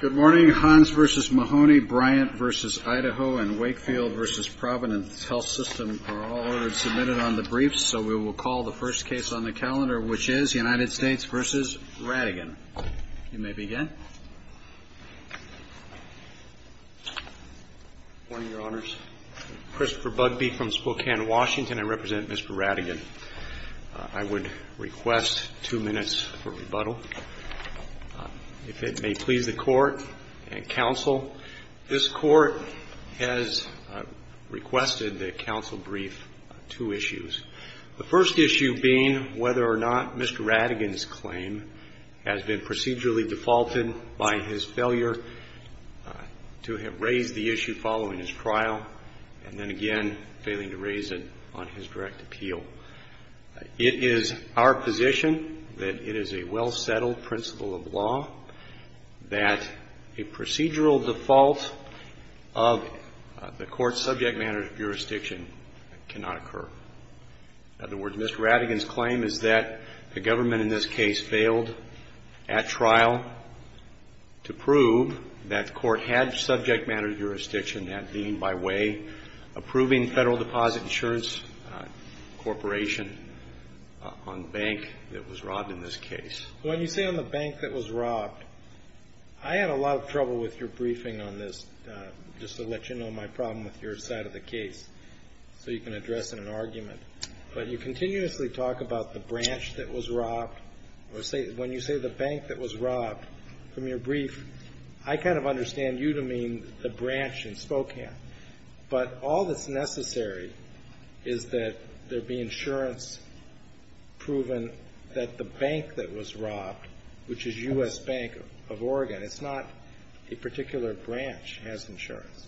Good morning. Hans v. Mahoney, Bryant v. Idaho, and Wakefield v. Providence Health System are all ordered submitted on the briefs. So we will call the first case on the calendar, which is United States v. Ratigan. You may begin. Good morning, Your Honors. Christopher Bugbee from Spokane, Washington. I represent Mr. Ratigan. I would request two minutes for rebuttal. If it may please the Court and Counsel, this Court has requested that Counsel brief two issues. The first issue being whether or not Mr. Ratigan's claim has been procedurally defaulted by his failure to have raised the issue following his trial and then again failing to raise it on his direct appeal. It is our position that it is a well-settled principle of law that a procedural default of the Court's subject matter jurisdiction cannot occur. In other words, Mr. Ratigan's claim is that the government in this case failed at trial to prove that the Court had subject matter jurisdiction that deemed by way of approving Federal Deposit Insurance Corporation on the bank that was robbed in this case. When you say on the bank that was robbed, I had a lot of trouble with your briefing on this just to let you know my problem with your side of the case so you can address it in an argument. But you continuously talk about the branch that was robbed. When you say the bank that was robbed, from your brief, I kind of understand you to mean the branch in Spokane. But all that's necessary is that there be insurance proven that the bank that was robbed, which is U.S. Bank of Oregon, it's not a particular branch has insurance.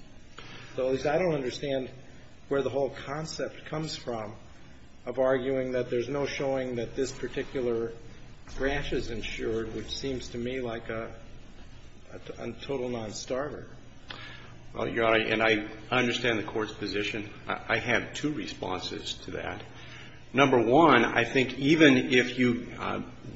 So at least I don't understand where the whole concept comes from of arguing that there's no showing that this particular branch is insured, which seems to me like a total nonstarter. Well, Your Honor, and I understand the Court's position. I have two responses to that. Number one, I think even if you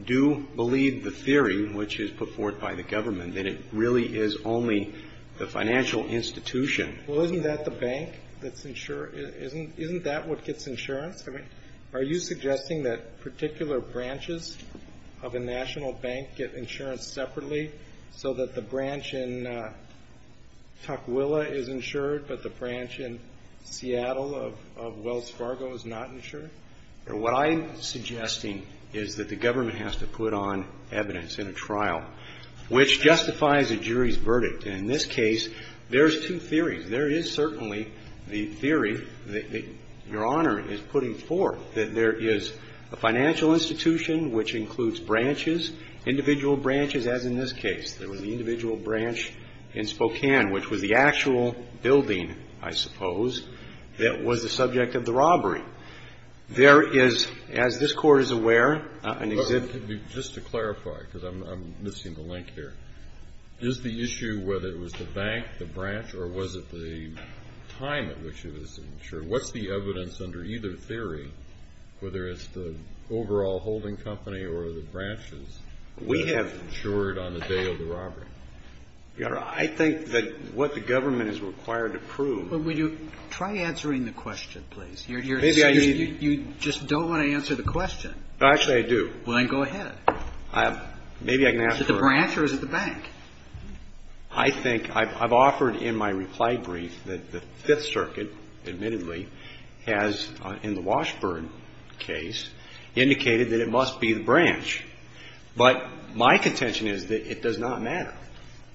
do believe the theory, which is put forward by the government, that it really is only the financial institution. Well, isn't that the bank that's insured? Isn't that what gets insurance? I mean, are you suggesting that particular branches of a national bank get insurance separately so that the branch in Tukwila is insured, but the branch in Seattle of Wells Fargo is not insured? What I'm suggesting is that the government has to put on evidence in a trial which justifies a jury's verdict. And in this case, there's two theories. There is certainly the theory that Your Honor is putting forth, that there is a financial institution which includes branches, individual branches, whereas as in this case, there was an individual branch in Spokane, which was the actual building, I suppose, that was the subject of the robbery. There is, as this Court is aware, an exhibit of the… Just to clarify, because I'm missing the link here, is the issue whether it was the bank, the branch, or was it the time at which it was insured? What's the evidence under either theory, whether it's the overall holding company or the branches? We have… It was insured on the day of the robbery. Your Honor, I think that what the government is required to prove… Well, would you try answering the question, please? You're… Maybe I… You just don't want to answer the question. Actually, I do. Well, then go ahead. Maybe I can ask for… Is it the branch or is it the bank? I think… I've offered in my reply brief that the Fifth Circuit, admittedly, has, in the Washburn case, indicated that it must be the branch. But my contention is that it does not matter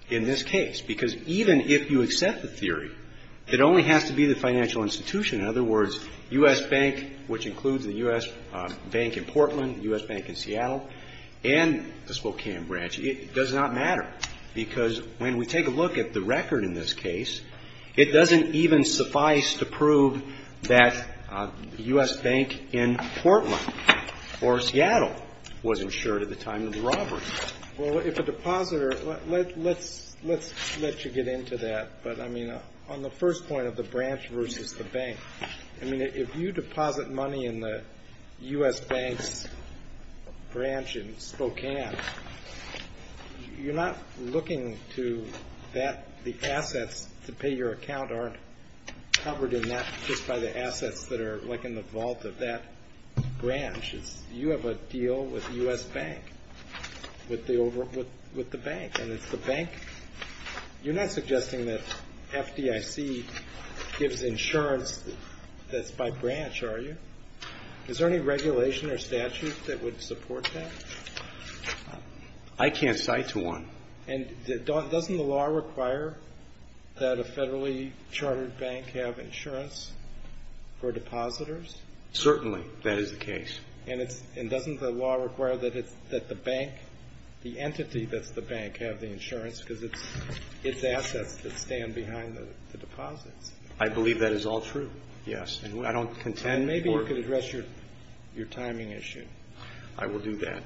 in this case, because even if you accept the theory, it only has to be the financial institution. In other words, U.S. Bank, which includes the U.S. Bank in Portland, the U.S. Bank in Seattle, and the Spokane branch, it does not matter. Because when we take a look at the record in this case, it doesn't even suffice to prove that the U.S. Bank in Portland or Seattle was insured at the time of the robbery. Well, if a depositor… Let's… Let's… Let's let you get into that. But, I mean, on the first point of the branch versus the bank, I mean, if you deposit money in the U.S. Bank's branch in Spokane, you're not looking to that… The assets to pay your account aren't covered in that just by the assets that are, like, in the vault of that branch. You have a deal with the U.S. Bank, with the bank. And it's the bank… You're not suggesting that FDIC gives insurance that's by branch, are you? Is there any regulation or statute that would support that? I can't cite to one. And doesn't the law require that a federally chartered bank have insurance for depositors? Certainly, that is the case. And it's… And doesn't the law require that the bank, the entity that's the bank, have the insurance because it's assets that stand behind the deposits? I believe that is all true, yes. And I don't contend… And maybe you could address your timing issue. I will do that.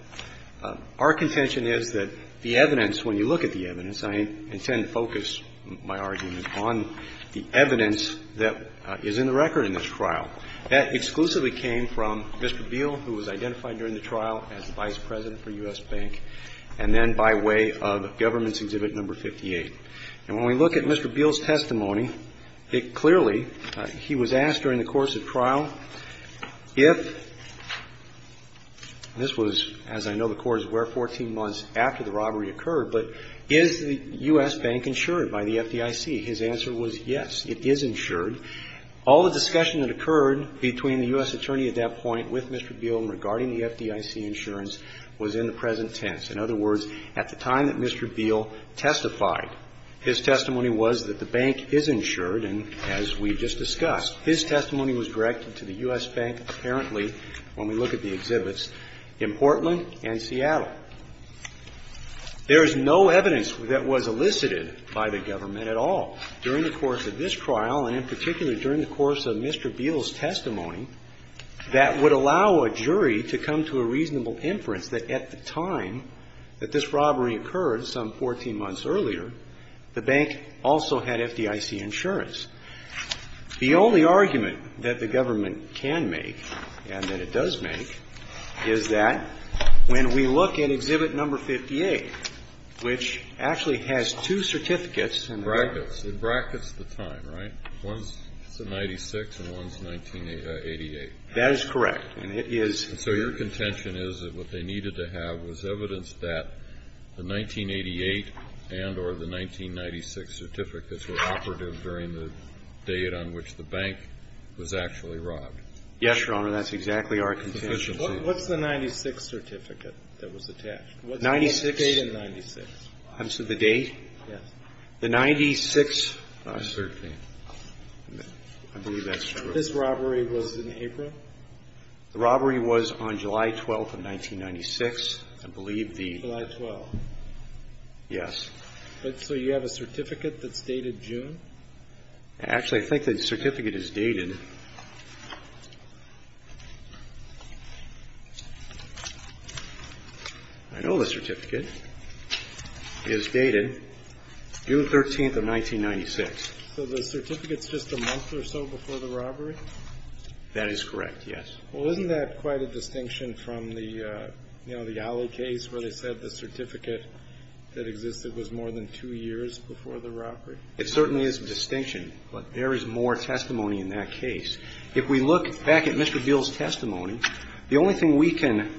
Our contention is that the evidence, when you look at the evidence, I intend to focus my argument on the evidence that is in the record in this trial. That exclusively came from Mr. Beal, who was identified during the trial as Vice President for U.S. Bank, and then by way of Government's Exhibit No. 58. And when we look at Mr. Beal's testimony, it clearly… He was asked during the course of trial if… This was, as I know the Court is aware, 14 months after the robbery occurred, but is the U.S. Bank insured by the FDIC? His answer was, yes, it is insured. All the discussion that occurred between the U.S. Attorney at that point with Mr. Beal regarding the FDIC insurance was in the present tense. In other words, at the time that Mr. Beal testified, his testimony was that the bank is insured, and as we just discussed, his testimony was directed to the U.S. Bank, apparently, when we look at the exhibits, in Portland and Seattle. There is no evidence that was elicited by the Government at all during the course of this trial, and in particular, during the course of Mr. Beal's testimony, that would allow a jury to come to a reasonable inference that at the time that this robbery occurred, some 14 months earlier, the bank also had FDIC insurance. The only argument that the Government can make, and that it does make, is that when we look at Exhibit No. 58, which actually has two certificates and brackets. Breyer. It brackets the time, right? One's 1996, and one's 1988. That is correct. And it is… And so your contention is that what they needed to have was evidence that the 1988 and or the 1996 certificates were operative during the date on which the bank was actually robbed? Yes, Your Honor. That's exactly our contention. What's the 1996 certificate that was attached? 96. What's the date in 96? I'm sorry, the date? Yes. The 96… I believe that's true. This robbery was in April? The robbery was on July 12th of 1996. I believe the… July 12th. Yes. So you have a certificate that's dated June? Actually, I think the certificate is dated… I know the certificate is dated June 13th of 1996. So the certificate's just a month or so before the robbery? That is correct, yes. Well, isn't that quite a distinction from the, you know, the Alley case where they said the certificate that existed was more than two years before the robbery? It certainly is a distinction, but there is more testimony in that case. If we look back at Mr. Beale's testimony, the only thing we can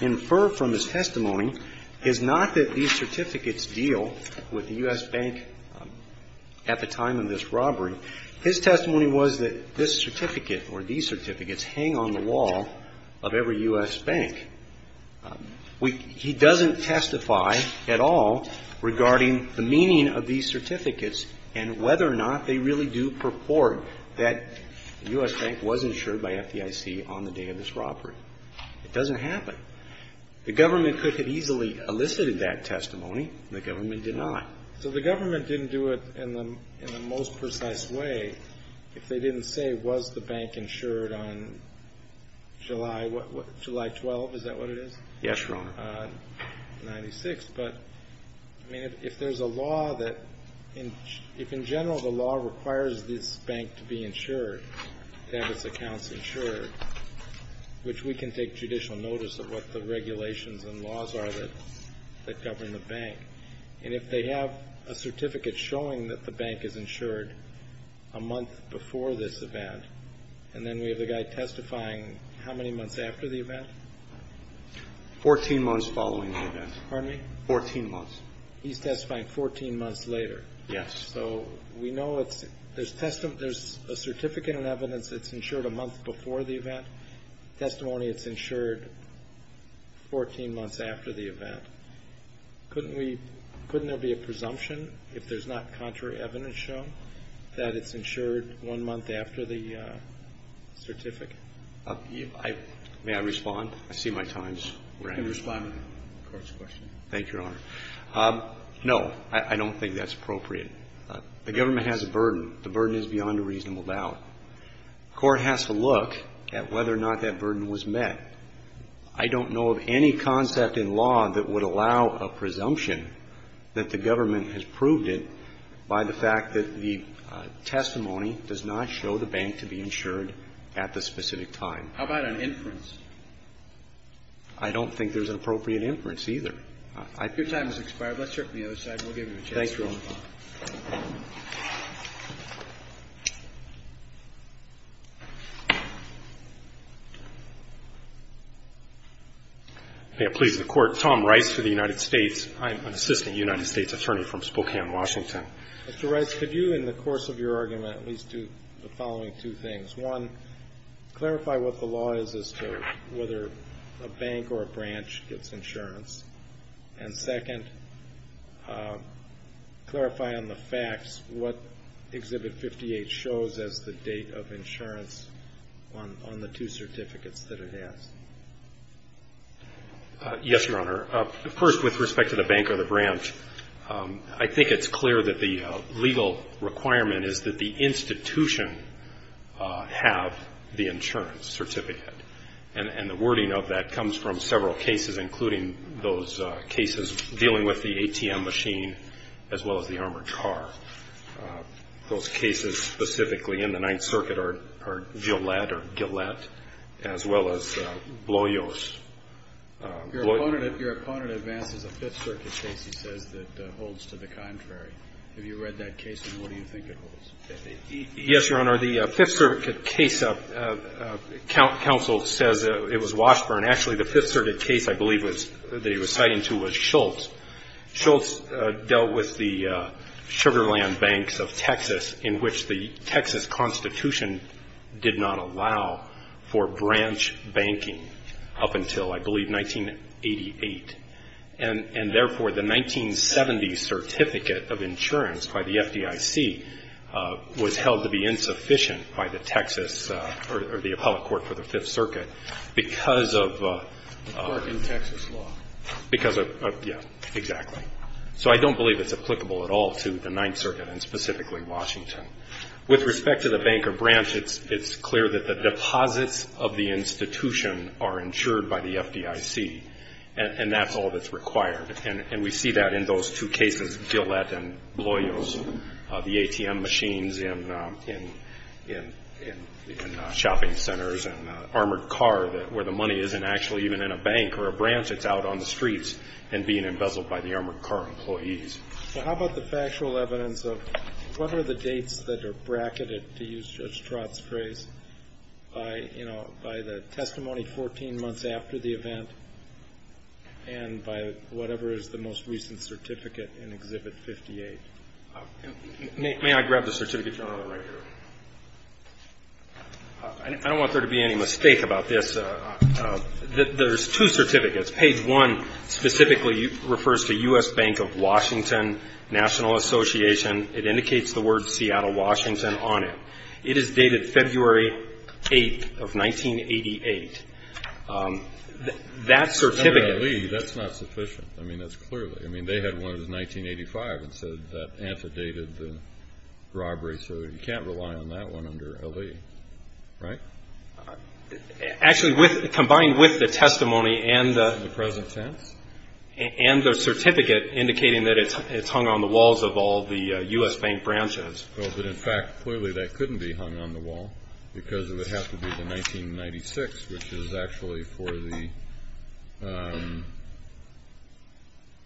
infer from his testimony is not that these certificates deal with the U.S. His testimony was that this certificate or these certificates hang on the wall of every U.S. bank. He doesn't testify at all regarding the meaning of these certificates and whether or not they really do purport that the U.S. bank was insured by FDIC on the day of this robbery. It doesn't happen. The government could have easily elicited that testimony, and the government did not. So the government didn't do it in the most precise way if they didn't say, was the bank insured on July 12th? Is that what it is? Yes, Your Honor. On 96th. But, I mean, if there's a law that… if in general the law requires this bank to be insured, to have its accounts insured, which we can take judicial notice of what the regulations and laws are that govern the bank. And if they have a certificate showing that the bank is insured a month before this event, and then we have the guy testifying how many months after the event? Fourteen months following the event. Pardon me? Fourteen months. He's testifying 14 months later. Yes. So we know it's… there's… there's a certificate and evidence that's insured a month before the event. Testimony, it's insured 14 months after the event. Couldn't we… couldn't there be a presumption, if there's not contrary evidence shown, that it's insured one month after the certificate? May I respond? I see my time's running. You can respond to the Court's question. Thank you, Your Honor. No, I don't think that's appropriate. The government has a burden. The burden is beyond a reasonable doubt. The Court has to look at whether or not that burden was met. I don't know of any concept in law that would allow a presumption that the government has proved it by the fact that the testimony does not show the bank to be insured at the specific time. How about an inference? I don't think there's an appropriate inference either. Your time has expired. Let's hear it from the other side, and we'll give you a chance to respond. Thank you. May it please the Court. Tom Rice for the United States. I'm an assistant United States attorney from Spokane, Washington. Mr. Rice, could you, in the course of your argument, at least do the following two things? One, clarify what the law is as to whether a bank or a branch gets insurance. And second, clarify on the facts what Exhibit 58 shows as the date of insurance on the two certificates that it has. Yes, Your Honor. First, with respect to the bank or the branch, I think it's clear that the legal requirement is that the institution have the insurance certificate. And the wording of that comes from several cases, including those cases dealing with the ATM machine, as well as the armored car. Those cases specifically in the Ninth Circuit are Gillette, as well as Bloyos. Your opponent advances a Fifth Circuit case, he says, that holds to the contrary. Have you read that case, and what do you think it holds? Yes, Your Honor. The Fifth Circuit case, counsel says it was Washburn. Actually, the Fifth Circuit case, I believe, that he was citing to was Schultz. Schultz dealt with the Sugar Land Banks of Texas, in which the Texas Constitution did not allow for branch banking up until, I believe, 1988. And, therefore, the 1970 certificate of insurance by the FDIC was held to be insufficient by the Texas or the appellate court for the Fifth Circuit because of. Because of Texas law. Because of, yes, exactly. So I don't believe it's applicable at all to the Ninth Circuit, and specifically Washington. With respect to the bank or branch, it's clear that the deposits of the institution are insured by the FDIC. And that's all that's required. And we see that in those two cases, Gillette and Bloyos, the ATM machines in shopping centers and armored car, where the money isn't actually even in a bank or a branch. It's out on the streets and being embezzled by the armored car employees. So how about the factual evidence of what are the dates that are bracketed, to use Judge Trott's phrase, by, you know, by the testimony 14 months after the event and by whatever is the most recent certificate in Exhibit 58? May I grab the certificate journal right here? I don't want there to be any mistake about this. There's two certificates. Page one specifically refers to U.S. Bank of Washington National Association. It indicates the word Seattle, Washington on it. It is dated February 8th of 1988. That certificate… Under Ali, that's not sufficient. I mean, that's clearly. I mean, they had one that was 1985 and said that antedated the robbery. So you can't rely on that one under Ali, right? Actually, combined with the testimony and the… The present tense? And the certificate indicating that it's hung on the walls of all the U.S. Bank branches. Well, but in fact, clearly that couldn't be hung on the wall because it would have to be the 1996, which is actually for the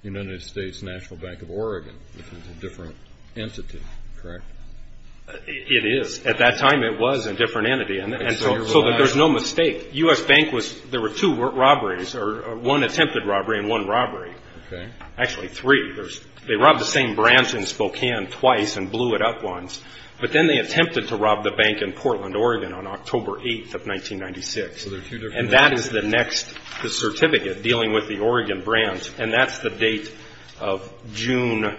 United States National Bank of Oregon, which is a different entity, correct? It is. At that time, it was a different entity. And so there's no mistake. U.S. Bank was… There were two robberies or one attempted robbery and one robbery. Okay. Actually, three. They robbed the same branch in Spokane twice and blew it up once. But then they attempted to rob the bank in Portland, Oregon on October 8th of 1996. So there are two different… And that is the next certificate dealing with the Oregon branch. And that's the date of June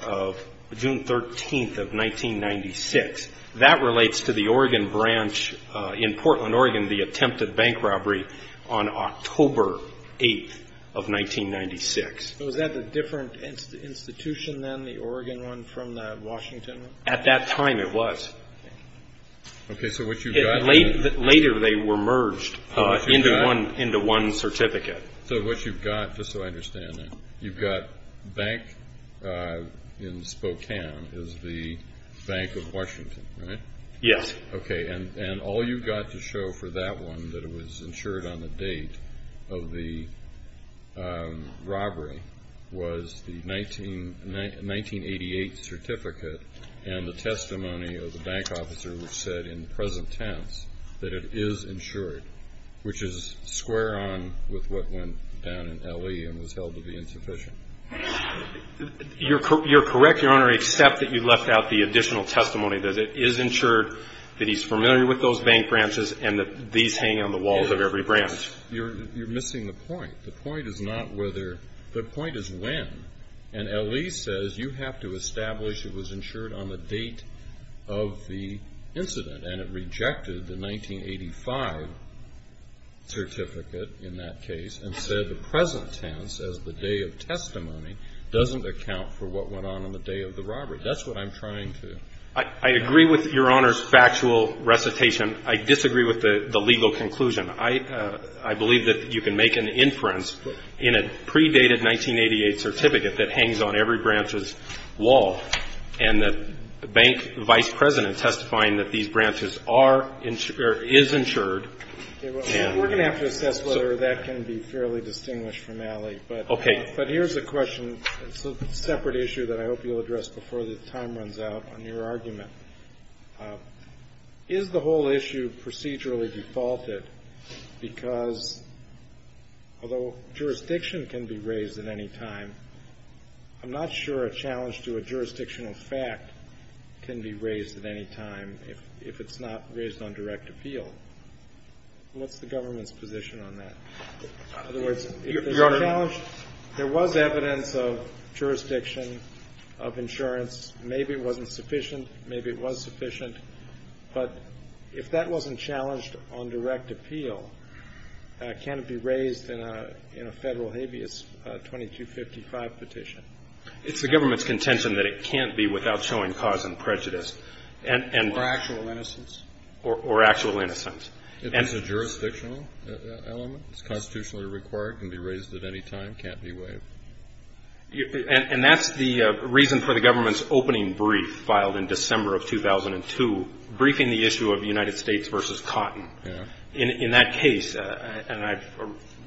13th of 1996. That relates to the Oregon branch in Portland, Oregon, the attempted bank robbery on October 8th of 1996. So is that a different institution than the Oregon one from the Washington one? At that time, it was. Okay. So what you've got… Later, they were merged into one certificate. So what you've got, just so I understand it, you've got bank in Spokane is the Bank of Washington, right? Yes. Okay. And all you've got to show for that one that it was insured on the date of the robbery was the 1988 certificate and the testimony of the bank officer which said in present tense that it is insured, which is square on with what went down in L.E. and was held to be insufficient. You're correct, Your Honor, except that you left out the additional testimony that it is insured, that he's familiar with those bank branches, and that these hang on the walls of every branch. You're missing the point. The point is not whether… The point is when. And L.E. says you have to establish it was insured on the date of the incident, and it rejected the 1985 certificate in that case and said the present tense as the day of testimony doesn't account for what went on on the day of the robbery. That's what I'm trying to… I agree with Your Honor's factual recitation. I disagree with the legal conclusion. I believe that you can make an inference in a predated 1988 certificate that hangs on every branch's wall and that the bank vice president testifying that these branches are or is insured… We're going to have to assess whether that can be fairly distinguished from L.E. Okay. But here's a question. It's a separate issue that I hope you'll address before the time runs out on your argument. Is the whole issue procedurally defaulted because although jurisdiction can be raised at any time, I'm not sure a challenge to a jurisdictional fact can be raised at any time if it's not raised on direct appeal. What's the government's position on that? In other words… Your Honor… But if that wasn't challenged on direct appeal, can it be raised in a federal habeas 2255 petition? It's the government's contention that it can't be without showing cause and prejudice. Or actual innocence. Or actual innocence. If it's a jurisdictional element, it's constitutionally required, can be raised at any time, can't be waived. And that's the reason for the government's opening brief filed in December of 2002, briefing the issue of United States versus Cotton. In that case, and I've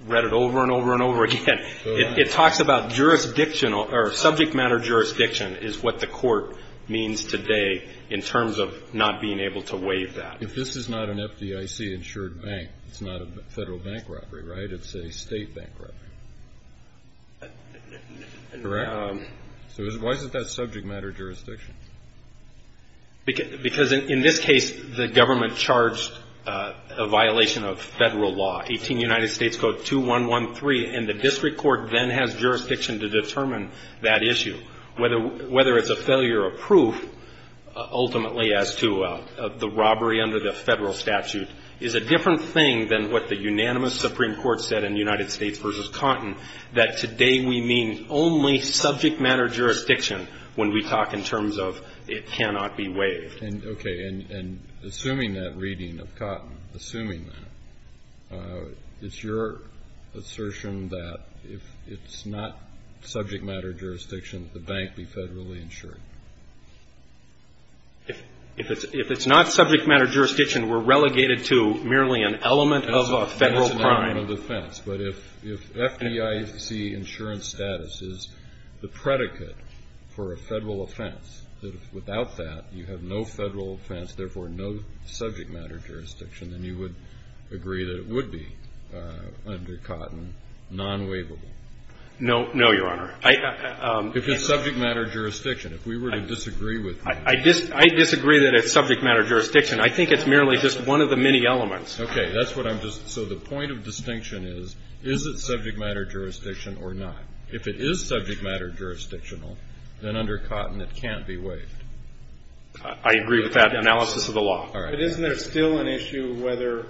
read it over and over and over again, it talks about jurisdiction or subject matter jurisdiction is what the court means today in terms of not being able to waive that. If this is not an FDIC-insured bank, it's not a federal bank robbery, right? It's a state bank robbery. Correct. So why is it that subject matter jurisdiction? Because in this case, the government charged a violation of federal law, 18 United States Code 2113, and the district court then has jurisdiction to determine that issue. Whether it's a failure of proof, ultimately, as to the robbery under the federal statute, is a different thing than what the unanimous Supreme Court said in United States versus Cotton, that today we mean only subject matter jurisdiction when we talk in terms of it cannot be waived. Okay. And assuming that reading of Cotton, assuming that, is your assertion that if it's not subject matter jurisdiction, the bank be federally insured? If it's not subject matter jurisdiction, we're relegated to merely an element of a federal crime. That's an element of offense. But if FDIC insurance status is the predicate for a federal offense, that if without that you have no federal offense, therefore no subject matter jurisdiction, then you would agree that it would be, under Cotton, non-waivable. No, Your Honor. If it's subject matter jurisdiction. If we were to disagree with you. I disagree that it's subject matter jurisdiction. I think it's merely just one of the many elements. Okay. That's what I'm just. So the point of distinction is, is it subject matter jurisdiction or not? If it is subject matter jurisdictional, then under Cotton it can't be waived. I agree with that analysis of the law. All right. But isn't there still an issue whether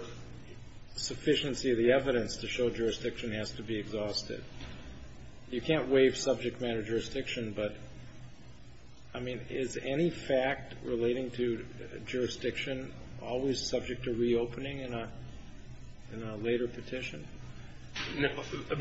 sufficiency of the evidence to show jurisdiction has to be exhausted? You can't waive subject matter jurisdiction, but, I mean, is any fact relating to jurisdiction always subject to reopening in a later petition?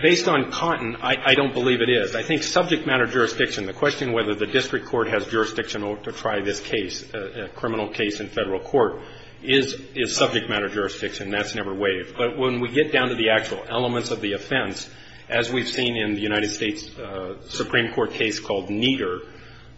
Based on Cotton, I don't believe it is. I think subject matter jurisdiction, the question whether the district court has jurisdiction to try this case, a criminal case in federal court, is subject matter jurisdiction. That's never waived. But when we get down to the actual elements of the offense, as we've seen in the United States Supreme Court case called Nieder,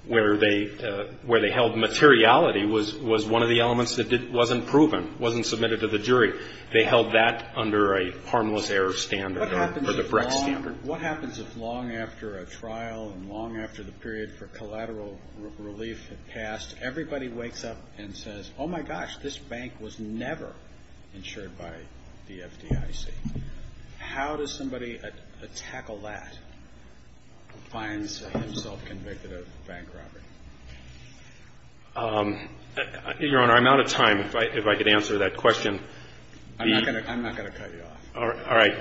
where they held materiality was one of the elements that wasn't proven, wasn't submitted to the jury. They held that under a harmless error standard or the Brex standard. What happens if long after a trial and long after the period for collateral relief had passed, everybody wakes up and says, oh, my gosh, this bank was never insured by the FDIC. How does somebody tackle that who finds himself convicted of bank robbery? Your Honor, I'm out of time. If I could answer that question. I'm not going to cut you off. All right.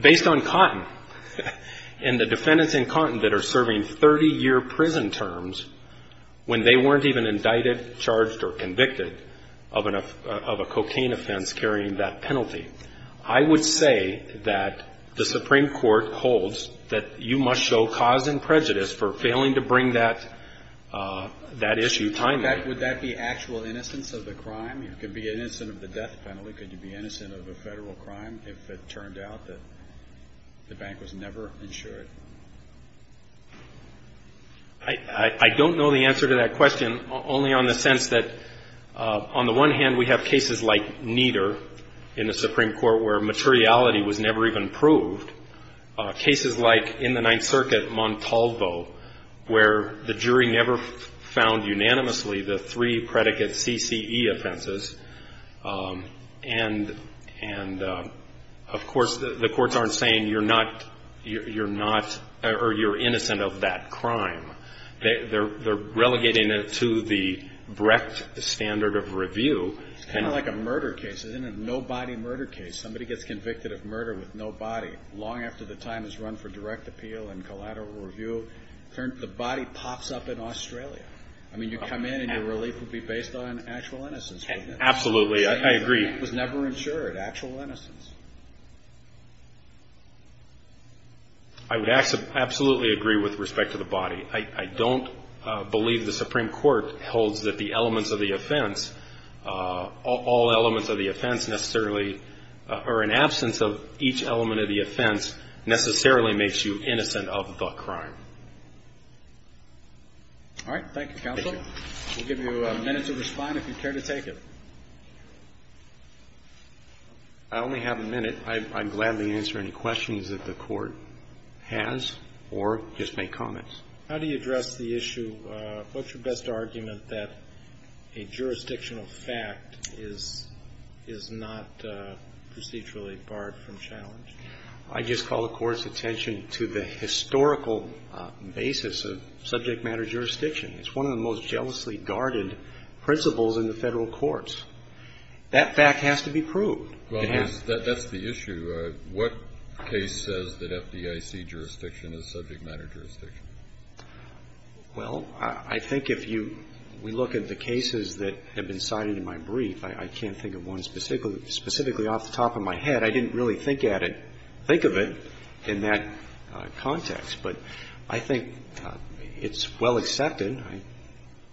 Based on Cotton and the defendants in Cotton that are serving 30-year prison terms when they weren't even indicted, charged or convicted of a cocaine offense carrying that penalty, I would say that the Supreme Court holds that you must show cause and prejudice for failing to bring that issue timely. Would that be actual innocence of the crime? It could be an innocent of the death penalty. Could you be innocent of a Federal crime if it turned out that the bank was never insured? I don't know the answer to that question, only on the sense that on the one hand, we have cases like Nieder in the Supreme Court where materiality was never even proved. Cases like in the Ninth Circuit, Montalvo, where the jury never found unanimously the three predicate CCE offenses. And, of course, the courts aren't saying you're innocent of that crime. They're relegating it to the Brecht standard of review. It's kind of like a murder case. It's a no-body murder case. Somebody gets convicted of murder with no body, long after the time is run for direct appeal and collateral review. The body pops up in Australia. I mean, you come in and your relief would be based on actual innocence, wouldn't it? Absolutely. I agree. The bank was never insured. Actual innocence. I would absolutely agree with respect to the body. I don't believe the Supreme Court holds that the elements of the offense, all elements of the offense necessarily, or an absence of each element of the offense necessarily makes you innocent of the crime. All right. Thank you, counsel. We'll give you a minute to respond if you care to take it. I only have a minute. I'm gladly to answer any questions that the court has or just make comments. How do you address the issue? What's your best argument that a jurisdictional fact is not procedurally barred from challenge? I just call the Court's attention to the historical basis of subject matter jurisdiction. It's one of the most jealously guarded principles in the Federal courts. That fact has to be proved. Well, that's the issue. What case says that FDIC jurisdiction is subject matter jurisdiction? Well, I think if you look at the cases that have been cited in my brief, I can't think of one specifically off the top of my head. I didn't really think at it, think of it in that context. But I think it's well accepted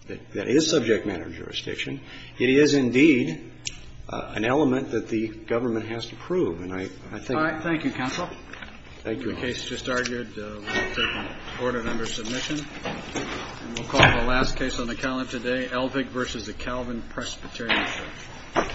that it is subject matter jurisdiction. It is, indeed, an element that the government has to prove. All right. Thank you, counsel. Thank you. The case just argued will be taken to court and under submission. And we'll call the last case on the calendar today, Elvig v. Calvin Presbyterian Church.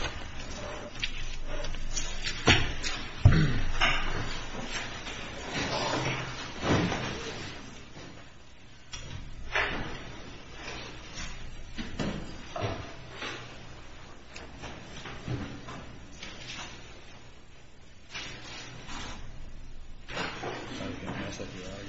Thank you.